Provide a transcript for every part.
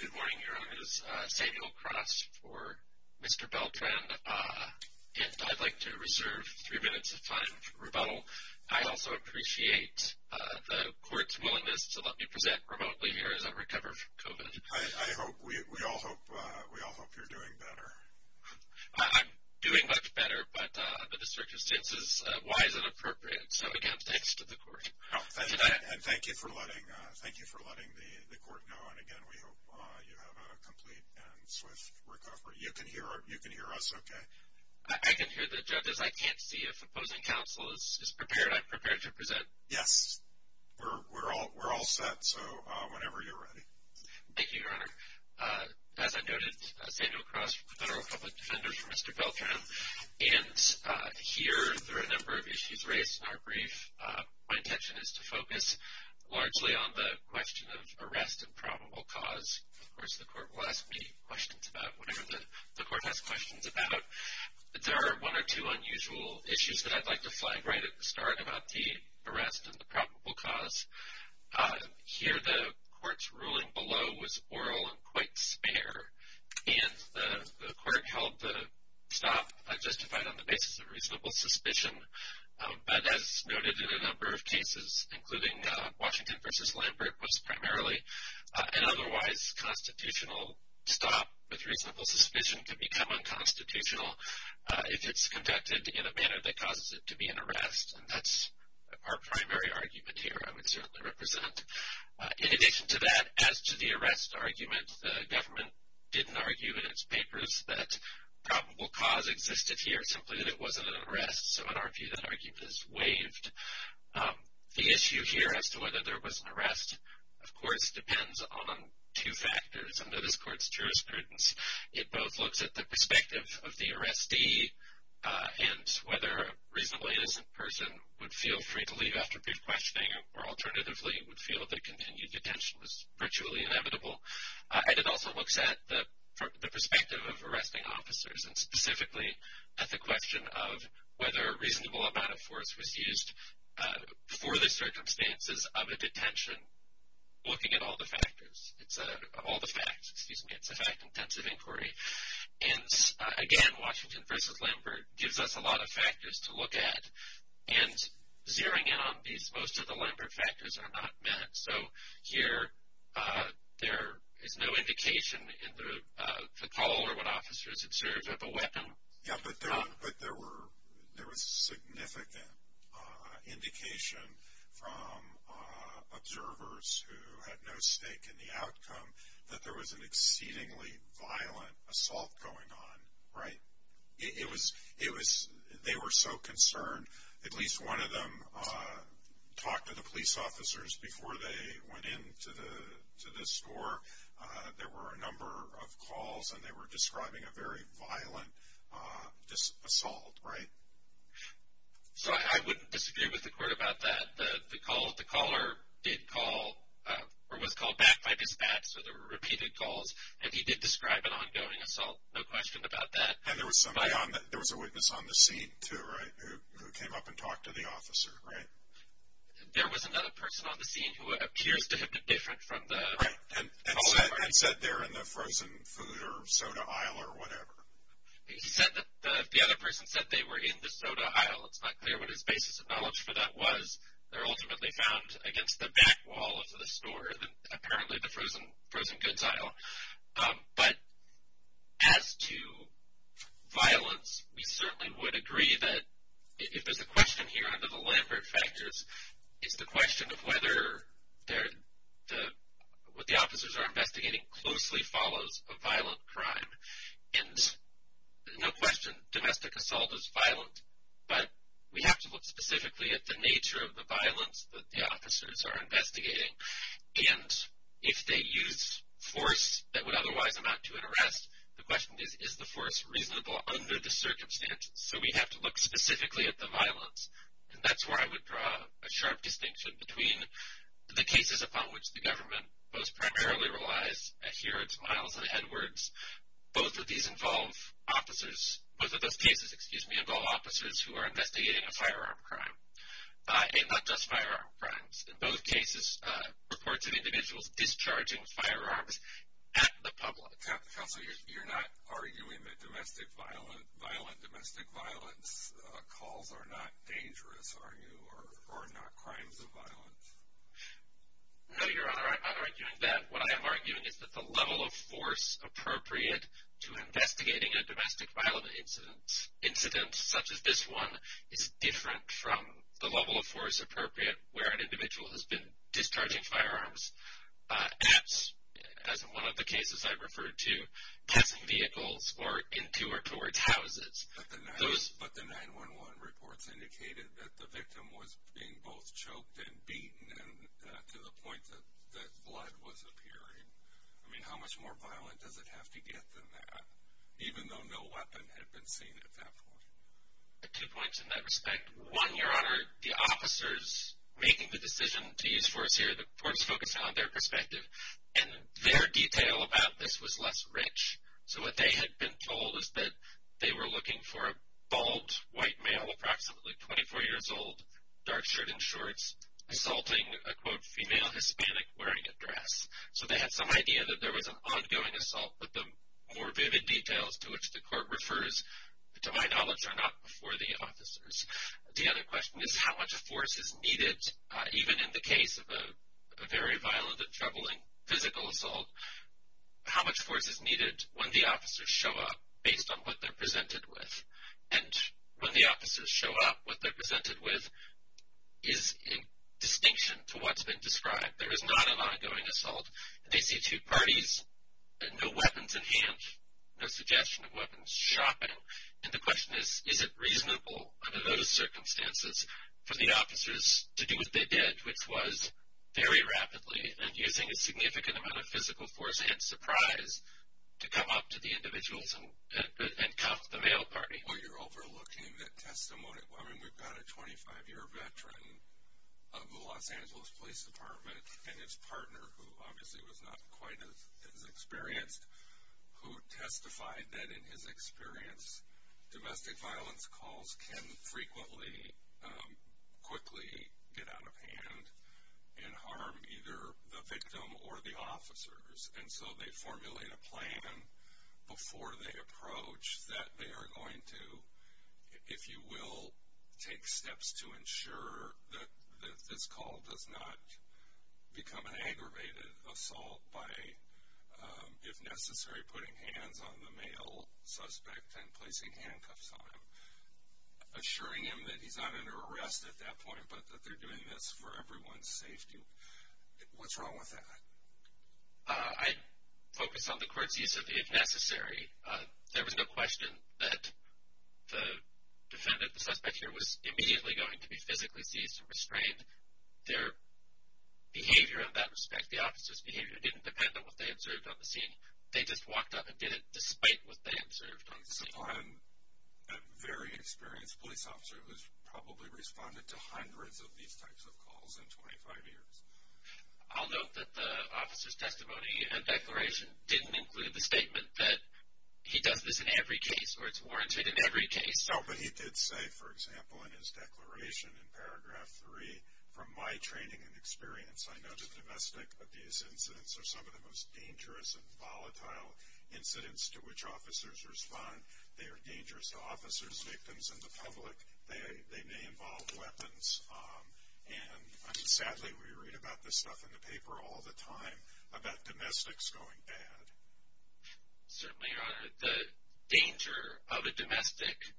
Good morning, Your Honors. Samuel Cross for Mr. Beltran, and I'd like to reserve three minutes of time for rebuttal. I also appreciate the Court's willingness to let me present remotely here as I recover from COVID. I hope, we all hope, we all hope you're doing better. I'm doing much better, but under the circumstances, why is it appropriate? So again, thanks to the Court. Thank you for letting the Court know, and again, we hope you have a complete and swift recovery. You can hear us okay? I can hear the judges. I can't see if opposing counsel is prepared. I'm prepared to present. Yes, we're all set, so whenever you're ready. Thank you, Your Honor. As I noted, Samuel Cross, Federal Public Defender for Mr. Beltran, and here there are a number of issues raised in our brief. My intention is to focus largely on the question of arrest and probable cause. Of course, the Court will ask me questions about whatever the Court has questions about. There are one or two unusual issues that I'd like to flag right at the start about the arrest and the probable cause. Here, the Court's ruling below was oral and quite spare, and the Court held the stop justified on the basis of reasonable suspicion. But as noted in a number of cases, including Washington v. Lambert, was primarily an otherwise constitutional stop with reasonable suspicion can become unconstitutional if it's conducted in a manner that causes it to be an arrest, and that's our primary argument here, I would certainly represent. In addition to that, as to the arrest argument, the government didn't argue in its papers that probable cause existed here, simply that it wasn't an arrest, so in our view, that argument is waived. The issue here as to whether there was an arrest, of course, depends on two factors under this Court's jurisprudence. It both looks at the perspective of the arrestee and whether a reasonably innocent person would feel free to leave after brief questioning or alternatively would feel that continued detention was virtually inevitable. And it also looks at the perspective of arresting officers, and specifically at the question of whether a reasonable amount of force was used for the circumstances of a detention, looking at all the factors, all the facts, excuse me, it's a fact-intensive inquiry. And again, Washington v. Lambert gives us a lot of factors to look at, and zeroing in on these, most of the Lambert factors are not met. So here, there is no indication in the call or what officers observed at the weapon. Yeah, but there was significant indication from observers who had no stake in the outcome that there was an exceedingly violent assault going on, right? They were so concerned. At least one of them talked to the police officers before they went into the store. There were a number of calls, and they were describing a very violent assault, right? So I wouldn't disagree with the Court about that. The caller did call or was called back by dispatch, so there were repeated calls, and he did describe an ongoing assault, no question about that. And there was a witness on the scene, too, right, who came up and talked to the officer, right? There was another person on the scene who appears to have been different from the callers. Right, and said they're in the frozen food or soda aisle or whatever. He said that the other person said they were in the soda aisle. It's not clear what his basis of knowledge for that was. They're ultimately found against the back wall of the store, apparently the frozen goods aisle. But as to violence, we certainly would agree that if there's a question here under the Lambert factors, it's the question of whether what the officers are investigating closely follows a violent crime. And no question, domestic assault is violent, but we have to look specifically at the nature of the violence that the officers are investigating. And if they use force that would otherwise amount to an arrest, the question is, is the force reasonable under the circumstances? So we have to look specifically at the violence, and that's where I would draw a sharp distinction between the cases upon which the government most primarily relies, and here it's Miles and Edwards. Both of these involve officers, both of those cases, excuse me, involve officers who are investigating a firearm crime, and not just firearm crimes. In both cases, reports of individuals discharging firearms at the public. Counsel, you're not arguing that domestic violence calls are not dangerous, are you, or not crimes of violence? No, Your Honor, I'm not arguing that. What I am arguing is that the level of force appropriate to investigating a domestic violence incident, such as this one, is different from the level of force appropriate where an individual has been discharging firearms at, as in one of the cases I referred to, passing vehicles or into or towards houses. But the 911 reports indicated that the victim was being both choked and beaten to the point that blood was appearing. I mean, how much more violent does it have to get than that? Even though no weapon had been seen at that point. Two points in that respect. One, Your Honor, the officers making the decision to use force here, the courts focused on their perspective, and their detail about this was less rich. So what they had been told is that they were looking for a bald, white male, approximately 24 years old, dark shirt and shorts, assaulting a, quote, female Hispanic wearing a dress. So they had some idea that there was an ongoing assault, but the more vivid details to which the court refers, to my knowledge, are not before the officers. The other question is how much force is needed, even in the case of a very violent and troubling physical assault, how much force is needed when the officers show up based on what they're presented with. And when the officers show up, what they're presented with is in distinction to what's been described. There is not an ongoing assault. They see two parties, no weapons in hand, no suggestion of weapons, shopping. And the question is, is it reasonable under those circumstances for the officers to do what they did, which was very rapidly and using a significant amount of physical force and surprise to come up to the individuals and cuff the male party. Well, you're overlooking that testimony. I mean, we've got a 25-year veteran of the Los Angeles Police Department and his partner, who obviously was not quite as experienced, who testified that, in his experience, domestic violence calls can frequently, quickly get out of hand and harm either the victim or the officers. And so they formulate a plan before they approach that they are going to, if you will, take steps to ensure that this call does not become an aggravated assault by, if necessary, putting hands on the male suspect and placing handcuffs on him, assuring him that he's not under arrest at that point but that they're doing this for everyone's safety. What's wrong with that? I focus on the court's use of the if necessary. There was no question that the defendant, the suspect here, was immediately going to be physically seized and restrained. Their behavior in that respect, the officer's behavior, didn't depend on what they observed on the scene. They just walked up and did it despite what they observed on the scene. I'm a very experienced police officer who's probably responded to hundreds of these types of calls in 25 years. I'll note that the officer's testimony and declaration didn't include the statement that he does this in every case or it's warranted in every case. No, but he did say, for example, in his declaration in paragraph 3, from my training and experience, I know that domestic abuse incidents are some of the most dangerous and volatile incidents to which officers respond. They are dangerous to officers, victims, and the public. They may involve weapons. And sadly, we read about this stuff in the paper all the time, about domestics going bad. Certainly, Your Honor, the danger of a domestic,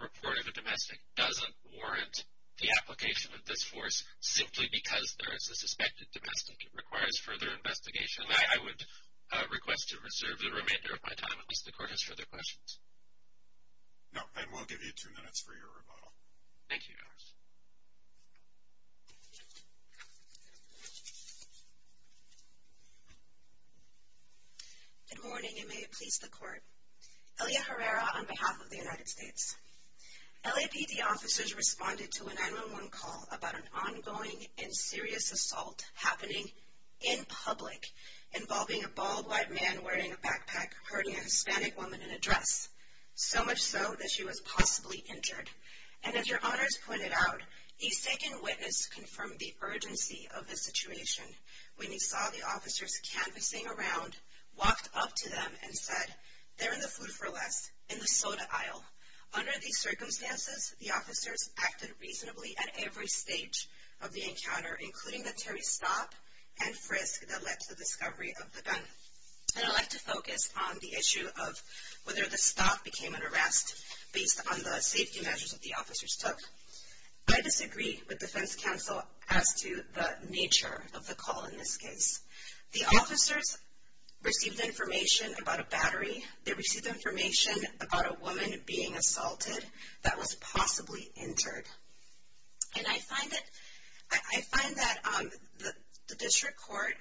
report of a domestic, doesn't warrant the application of this force simply because there is a suspected domestic that requires further investigation. I would request to reserve the remainder of my time unless the Court has further questions. No, and we'll give you two minutes for your rebuttal. Thank you, Your Honor. Good morning, and may it please the Court. Elia Herrera on behalf of the United States. LAPD officers responded to a 911 call about an ongoing and serious assault happening in public, involving a bald white man wearing a backpack hurting a Hispanic woman in a dress, so much so that she was possibly injured. And as Your Honors pointed out, he's taken witness to confirm the urgency of the situation when he saw the officers canvassing around, walked up to them, and said, they're in the food for less, in the soda aisle. Under these circumstances, the officers acted reasonably at every stage of the encounter, including the Terry stop and frisk that led to the discovery of the gun. And I'd like to focus on the issue of whether the stop became an arrest based on the safety measures that the officers took. I disagree with defense counsel as to the nature of the call in this case. The officers received information about a battery. They received information about a woman being assaulted that was possibly injured. And I find that the district court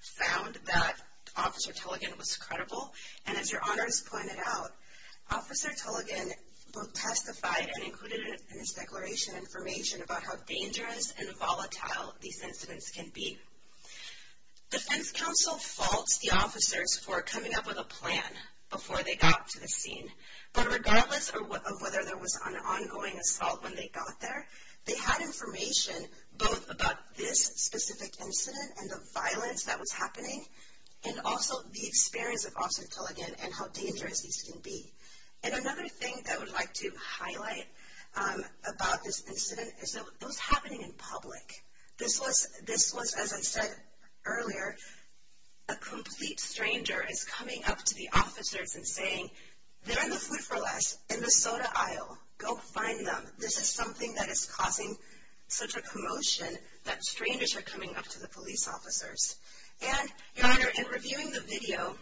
found that Officer Tulligan was credible. And as Your Honors pointed out, Officer Tulligan testified and included in his declaration information about how dangerous and volatile these incidents can be. Defense counsel faults the officers for coming up with a plan before they got to the scene. But regardless of whether there was an ongoing assault when they got there, they had information both about this specific incident and the violence that was happening, and also the experience of Officer Tulligan and how dangerous these can be. And another thing that I would like to highlight about this incident is that it was happening in public. This was, as I said earlier, a complete stranger is coming up to the officers and saying, they're in the food for less, in the soda aisle, go find them. This is something that is causing such a commotion that strangers are coming up to the police officers. And Your Honor, in reviewing the video,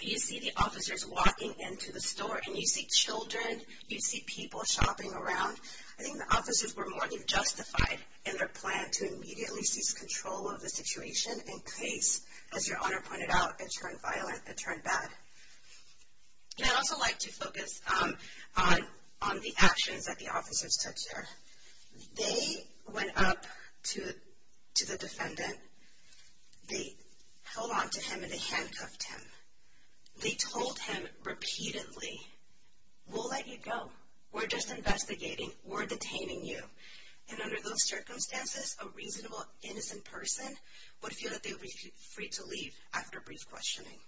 you see the officers walking into the store, and you see children, you see people shopping around. I think the officers were more than justified in their plan to immediately seize control of the situation in case, as Your Honor pointed out, it turned violent, it turned bad. And I'd also like to focus on the actions that the officers took there. They went up to the defendant, they held on to him and they handcuffed him. They told him repeatedly, we'll let you go, we're just investigating, we're detaining you. And under those circumstances, a reasonable, innocent person would feel that they would be free to leave after brief questioning.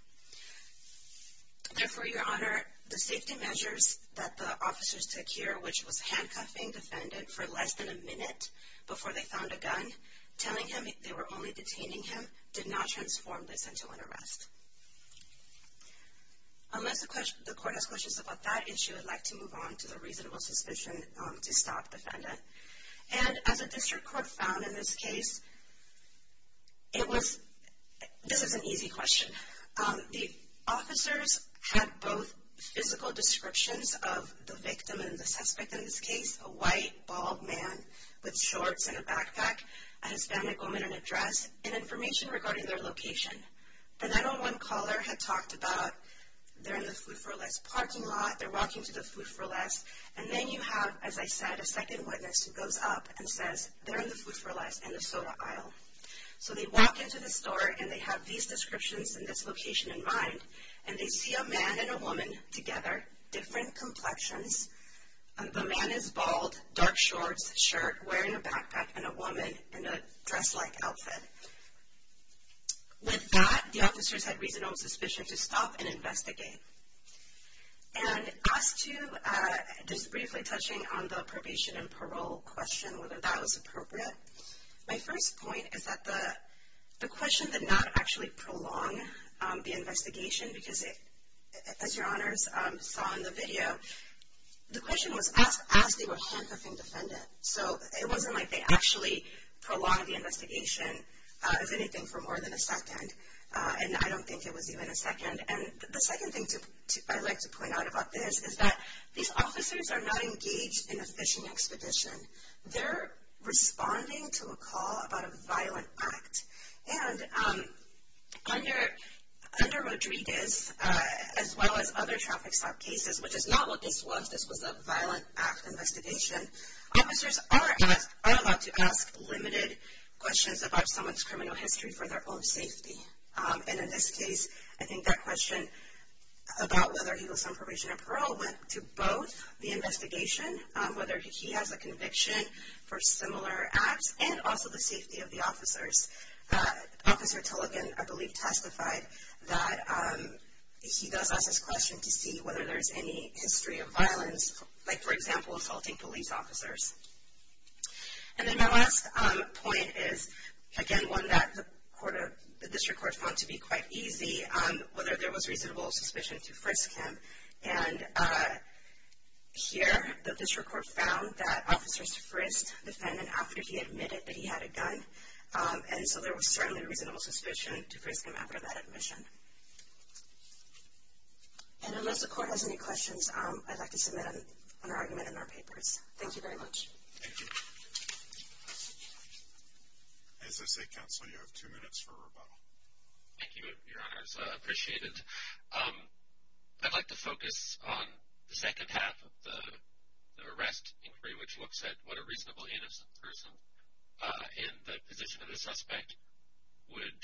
Therefore, Your Honor, the safety measures that the officers took here, which was handcuffing the defendant for less than a minute before they found a gun, telling him they were only detaining him, did not transform this into an arrest. Unless the court has questions about that issue, I'd like to move on to the reasonable suspicion to stop the defendant. And as a district court found in this case, it was, this is an easy question. The officers had both physical descriptions of the victim and the suspect in this case, a white, bald man with shorts and a backpack, a Hispanic woman in a dress, and information regarding their location. Another one caller had talked about, they're in the Food for Less parking lot, they're walking to the Food for Less, and then you have, as I said, a second witness who goes up and says, they're in the Food for Less in the soda aisle. So they walk into the store, and they have these descriptions and this location in mind, and they see a man and a woman together, different complexions. The man is bald, dark shorts, shirt, wearing a backpack, and a woman in a dress-like outfit. With that, the officers had reasonable suspicion to stop and investigate. And as to, just briefly touching on the probation and parole question, whether that was appropriate, my first point is that the question did not actually prolong the investigation, because as your honors saw in the video, the question was asked as they were handcuffing the defendant. So it wasn't like they actually prolonged the investigation, if anything, for more than a second. And I don't think it was even a second. And the second thing I'd like to point out about this is that these officers are not engaged in a phishing expedition. They're responding to a call about a violent act. And under Rodriguez, as well as other traffic stop cases, which is not what this was, this was a violent act investigation, officers are allowed to ask limited questions about someone's criminal history for their own safety. And in this case, I think that question about whether he was on probation or parole went to both the investigation, whether he has a conviction for similar acts, and also the safety of the officers. Officer Tilligan, I believe, testified that he does ask this question to see whether there's any history of violence, like, for example, assaulting police officers. And then my last point is, again, one that the district court found to be quite easy, whether there was reasonable suspicion to frisk him. And here, the district court found that officers frisked the defendant after he admitted that he had a gun, and so there was certainly reasonable suspicion to frisk him after that admission. And unless the court has any questions, I'd like to submit an argument in our papers. Thank you very much. Thank you. As I say, counsel, you have two minutes for rebuttal. Thank you, Your Honors. I appreciate it. I'd like to focus on the second half of the arrest inquiry, which looks at what a reasonably innocent person in the position of the suspect would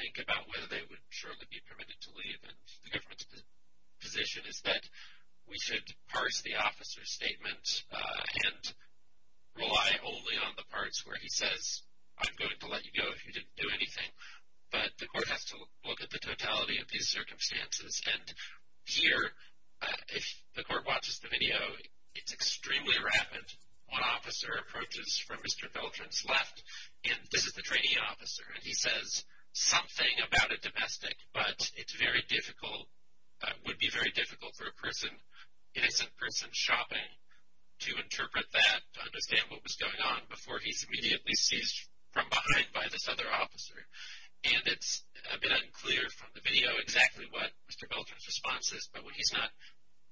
think about whether they would surely be permitted to leave. And the government's position is that we should parse the officer's statement and rely only on the parts where he says, I'm going to let you go if you didn't do anything. But the court has to look at the totality of these circumstances. And here, if the court watches the video, it's extremely rapid. One officer approaches from Mr. Veltrin's left, and this is the training officer, and he says something about a domestic, but it's very difficult, would be very difficult for an innocent person shopping to interpret that, to understand what was going on before he's immediately seized from behind by this other officer. And it's a bit unclear from the video exactly what Mr. Veltrin's response is, but when he's not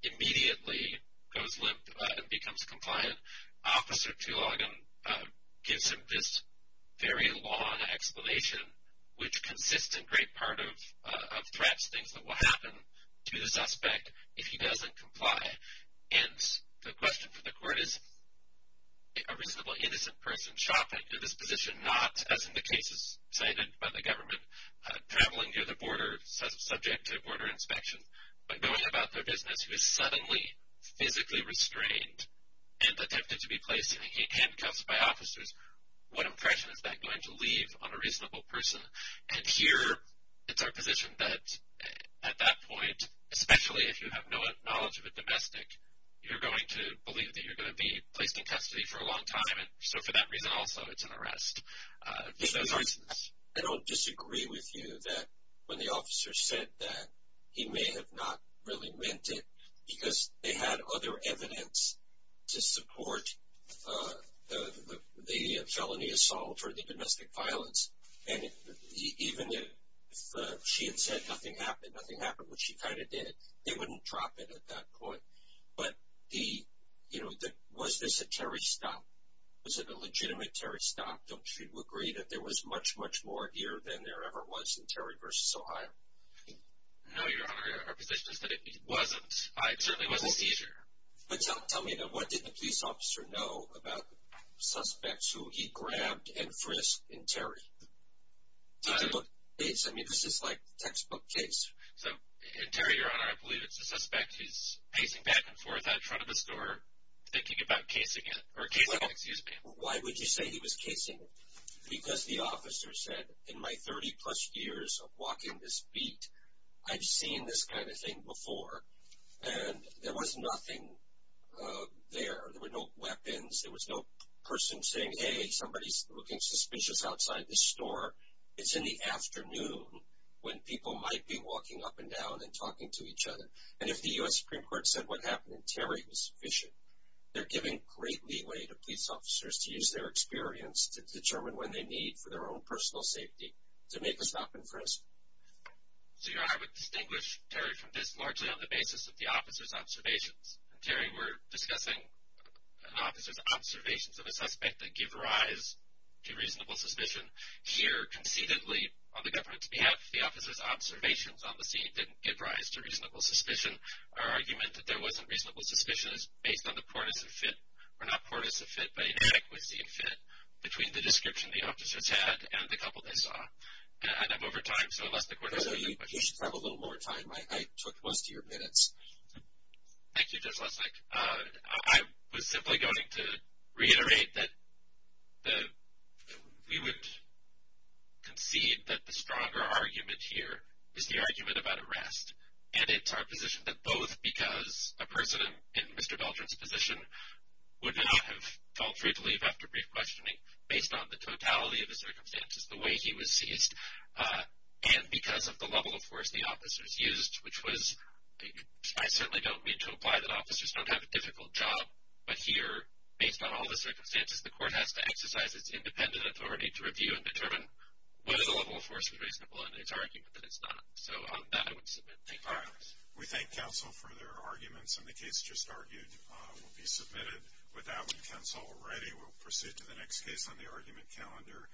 immediately goes limp and becomes compliant, Officer Tulogham gives him this very long explanation, which consists in great part of threats, things that will happen to the suspect if he doesn't comply. And the question for the court is, a reasonably innocent person shopping in this position, not, as in the cases cited by the government, traveling near the border, subject to border inspection, but going about their business who is suddenly physically restrained and attempted to be placed in handcuffs by officers, what impression is that going to leave on a reasonable person? And here, it's our position that at that point, especially if you have no knowledge of a domestic, you're going to believe that you're going to be placed in custody for a long time, and so for that reason also, it's an arrest. I don't disagree with you that when the officer said that, he may have not really meant it, because they had other evidence to support the felony assault or the domestic violence, and even if she had said nothing happened, nothing happened, which she kind of did, they wouldn't drop it at that point. But was this a Terry stop? Was it a legitimate Terry stop? Don't you agree that there was much, much more here than there ever was in Terry v. Ohio? No, Your Honor, our position is that it wasn't. It certainly wasn't a seizure. But tell me, what did the police officer know about the suspects who he grabbed and frisked in Terry? Did they look at the case? I mean, this is like a textbook case. So in Terry, Your Honor, I believe it's the suspect. He's pacing back and forth out in front of the store, thinking about casing it. Why would you say he was casing it? Because the officer said, in my 30-plus years of walking this beat, I've seen this kind of thing before, and there was nothing there. There were no weapons. There was no person saying, hey, somebody's looking suspicious outside this store. It's in the afternoon when people might be walking up and down and talking to each other. And if the U.S. Supreme Court said what happened in Terry was sufficient, they're giving great leeway to police officers to use their experience to determine when they need for their own personal safety to make a stop and frisk. So, Your Honor, I would distinguish Terry from this largely on the basis of the officer's observations. In Terry, we're discussing an officer's observations of a suspect that give rise to reasonable suspicion. Here, conceitedly, on the government's behalf, the officer's observations on the scene didn't give rise to reasonable suspicion. Our argument that there wasn't reasonable suspicion is based on the poorness of fit, or not poorness of fit, but inadequacy of fit, between the description the officers had and the couple they saw. And I'm over time, so unless the court has any more questions. You should have a little more time. I took most of your minutes. Thank you, Judge Lesnik. I was simply going to reiterate that we would concede that the stronger argument here is the argument about arrest, and it's our position that both because a person in Mr. Dalton's position would not have felt free to leave after brief questioning based on the totality of the circumstances, the way he was seized, and because of the level of force the officers used, which was, I certainly don't mean to imply that officers don't have a difficult job, but here, based on all the circumstances, the court has to exercise its independent authority to review and determine whether the level of force was reasonable, and it's our argument that it's not. So, on that, I would submit thank you. All right. We thank counsel for their arguments, and the case just argued will be submitted. With that, we cancel already. We'll proceed to the next case on the argument calendar.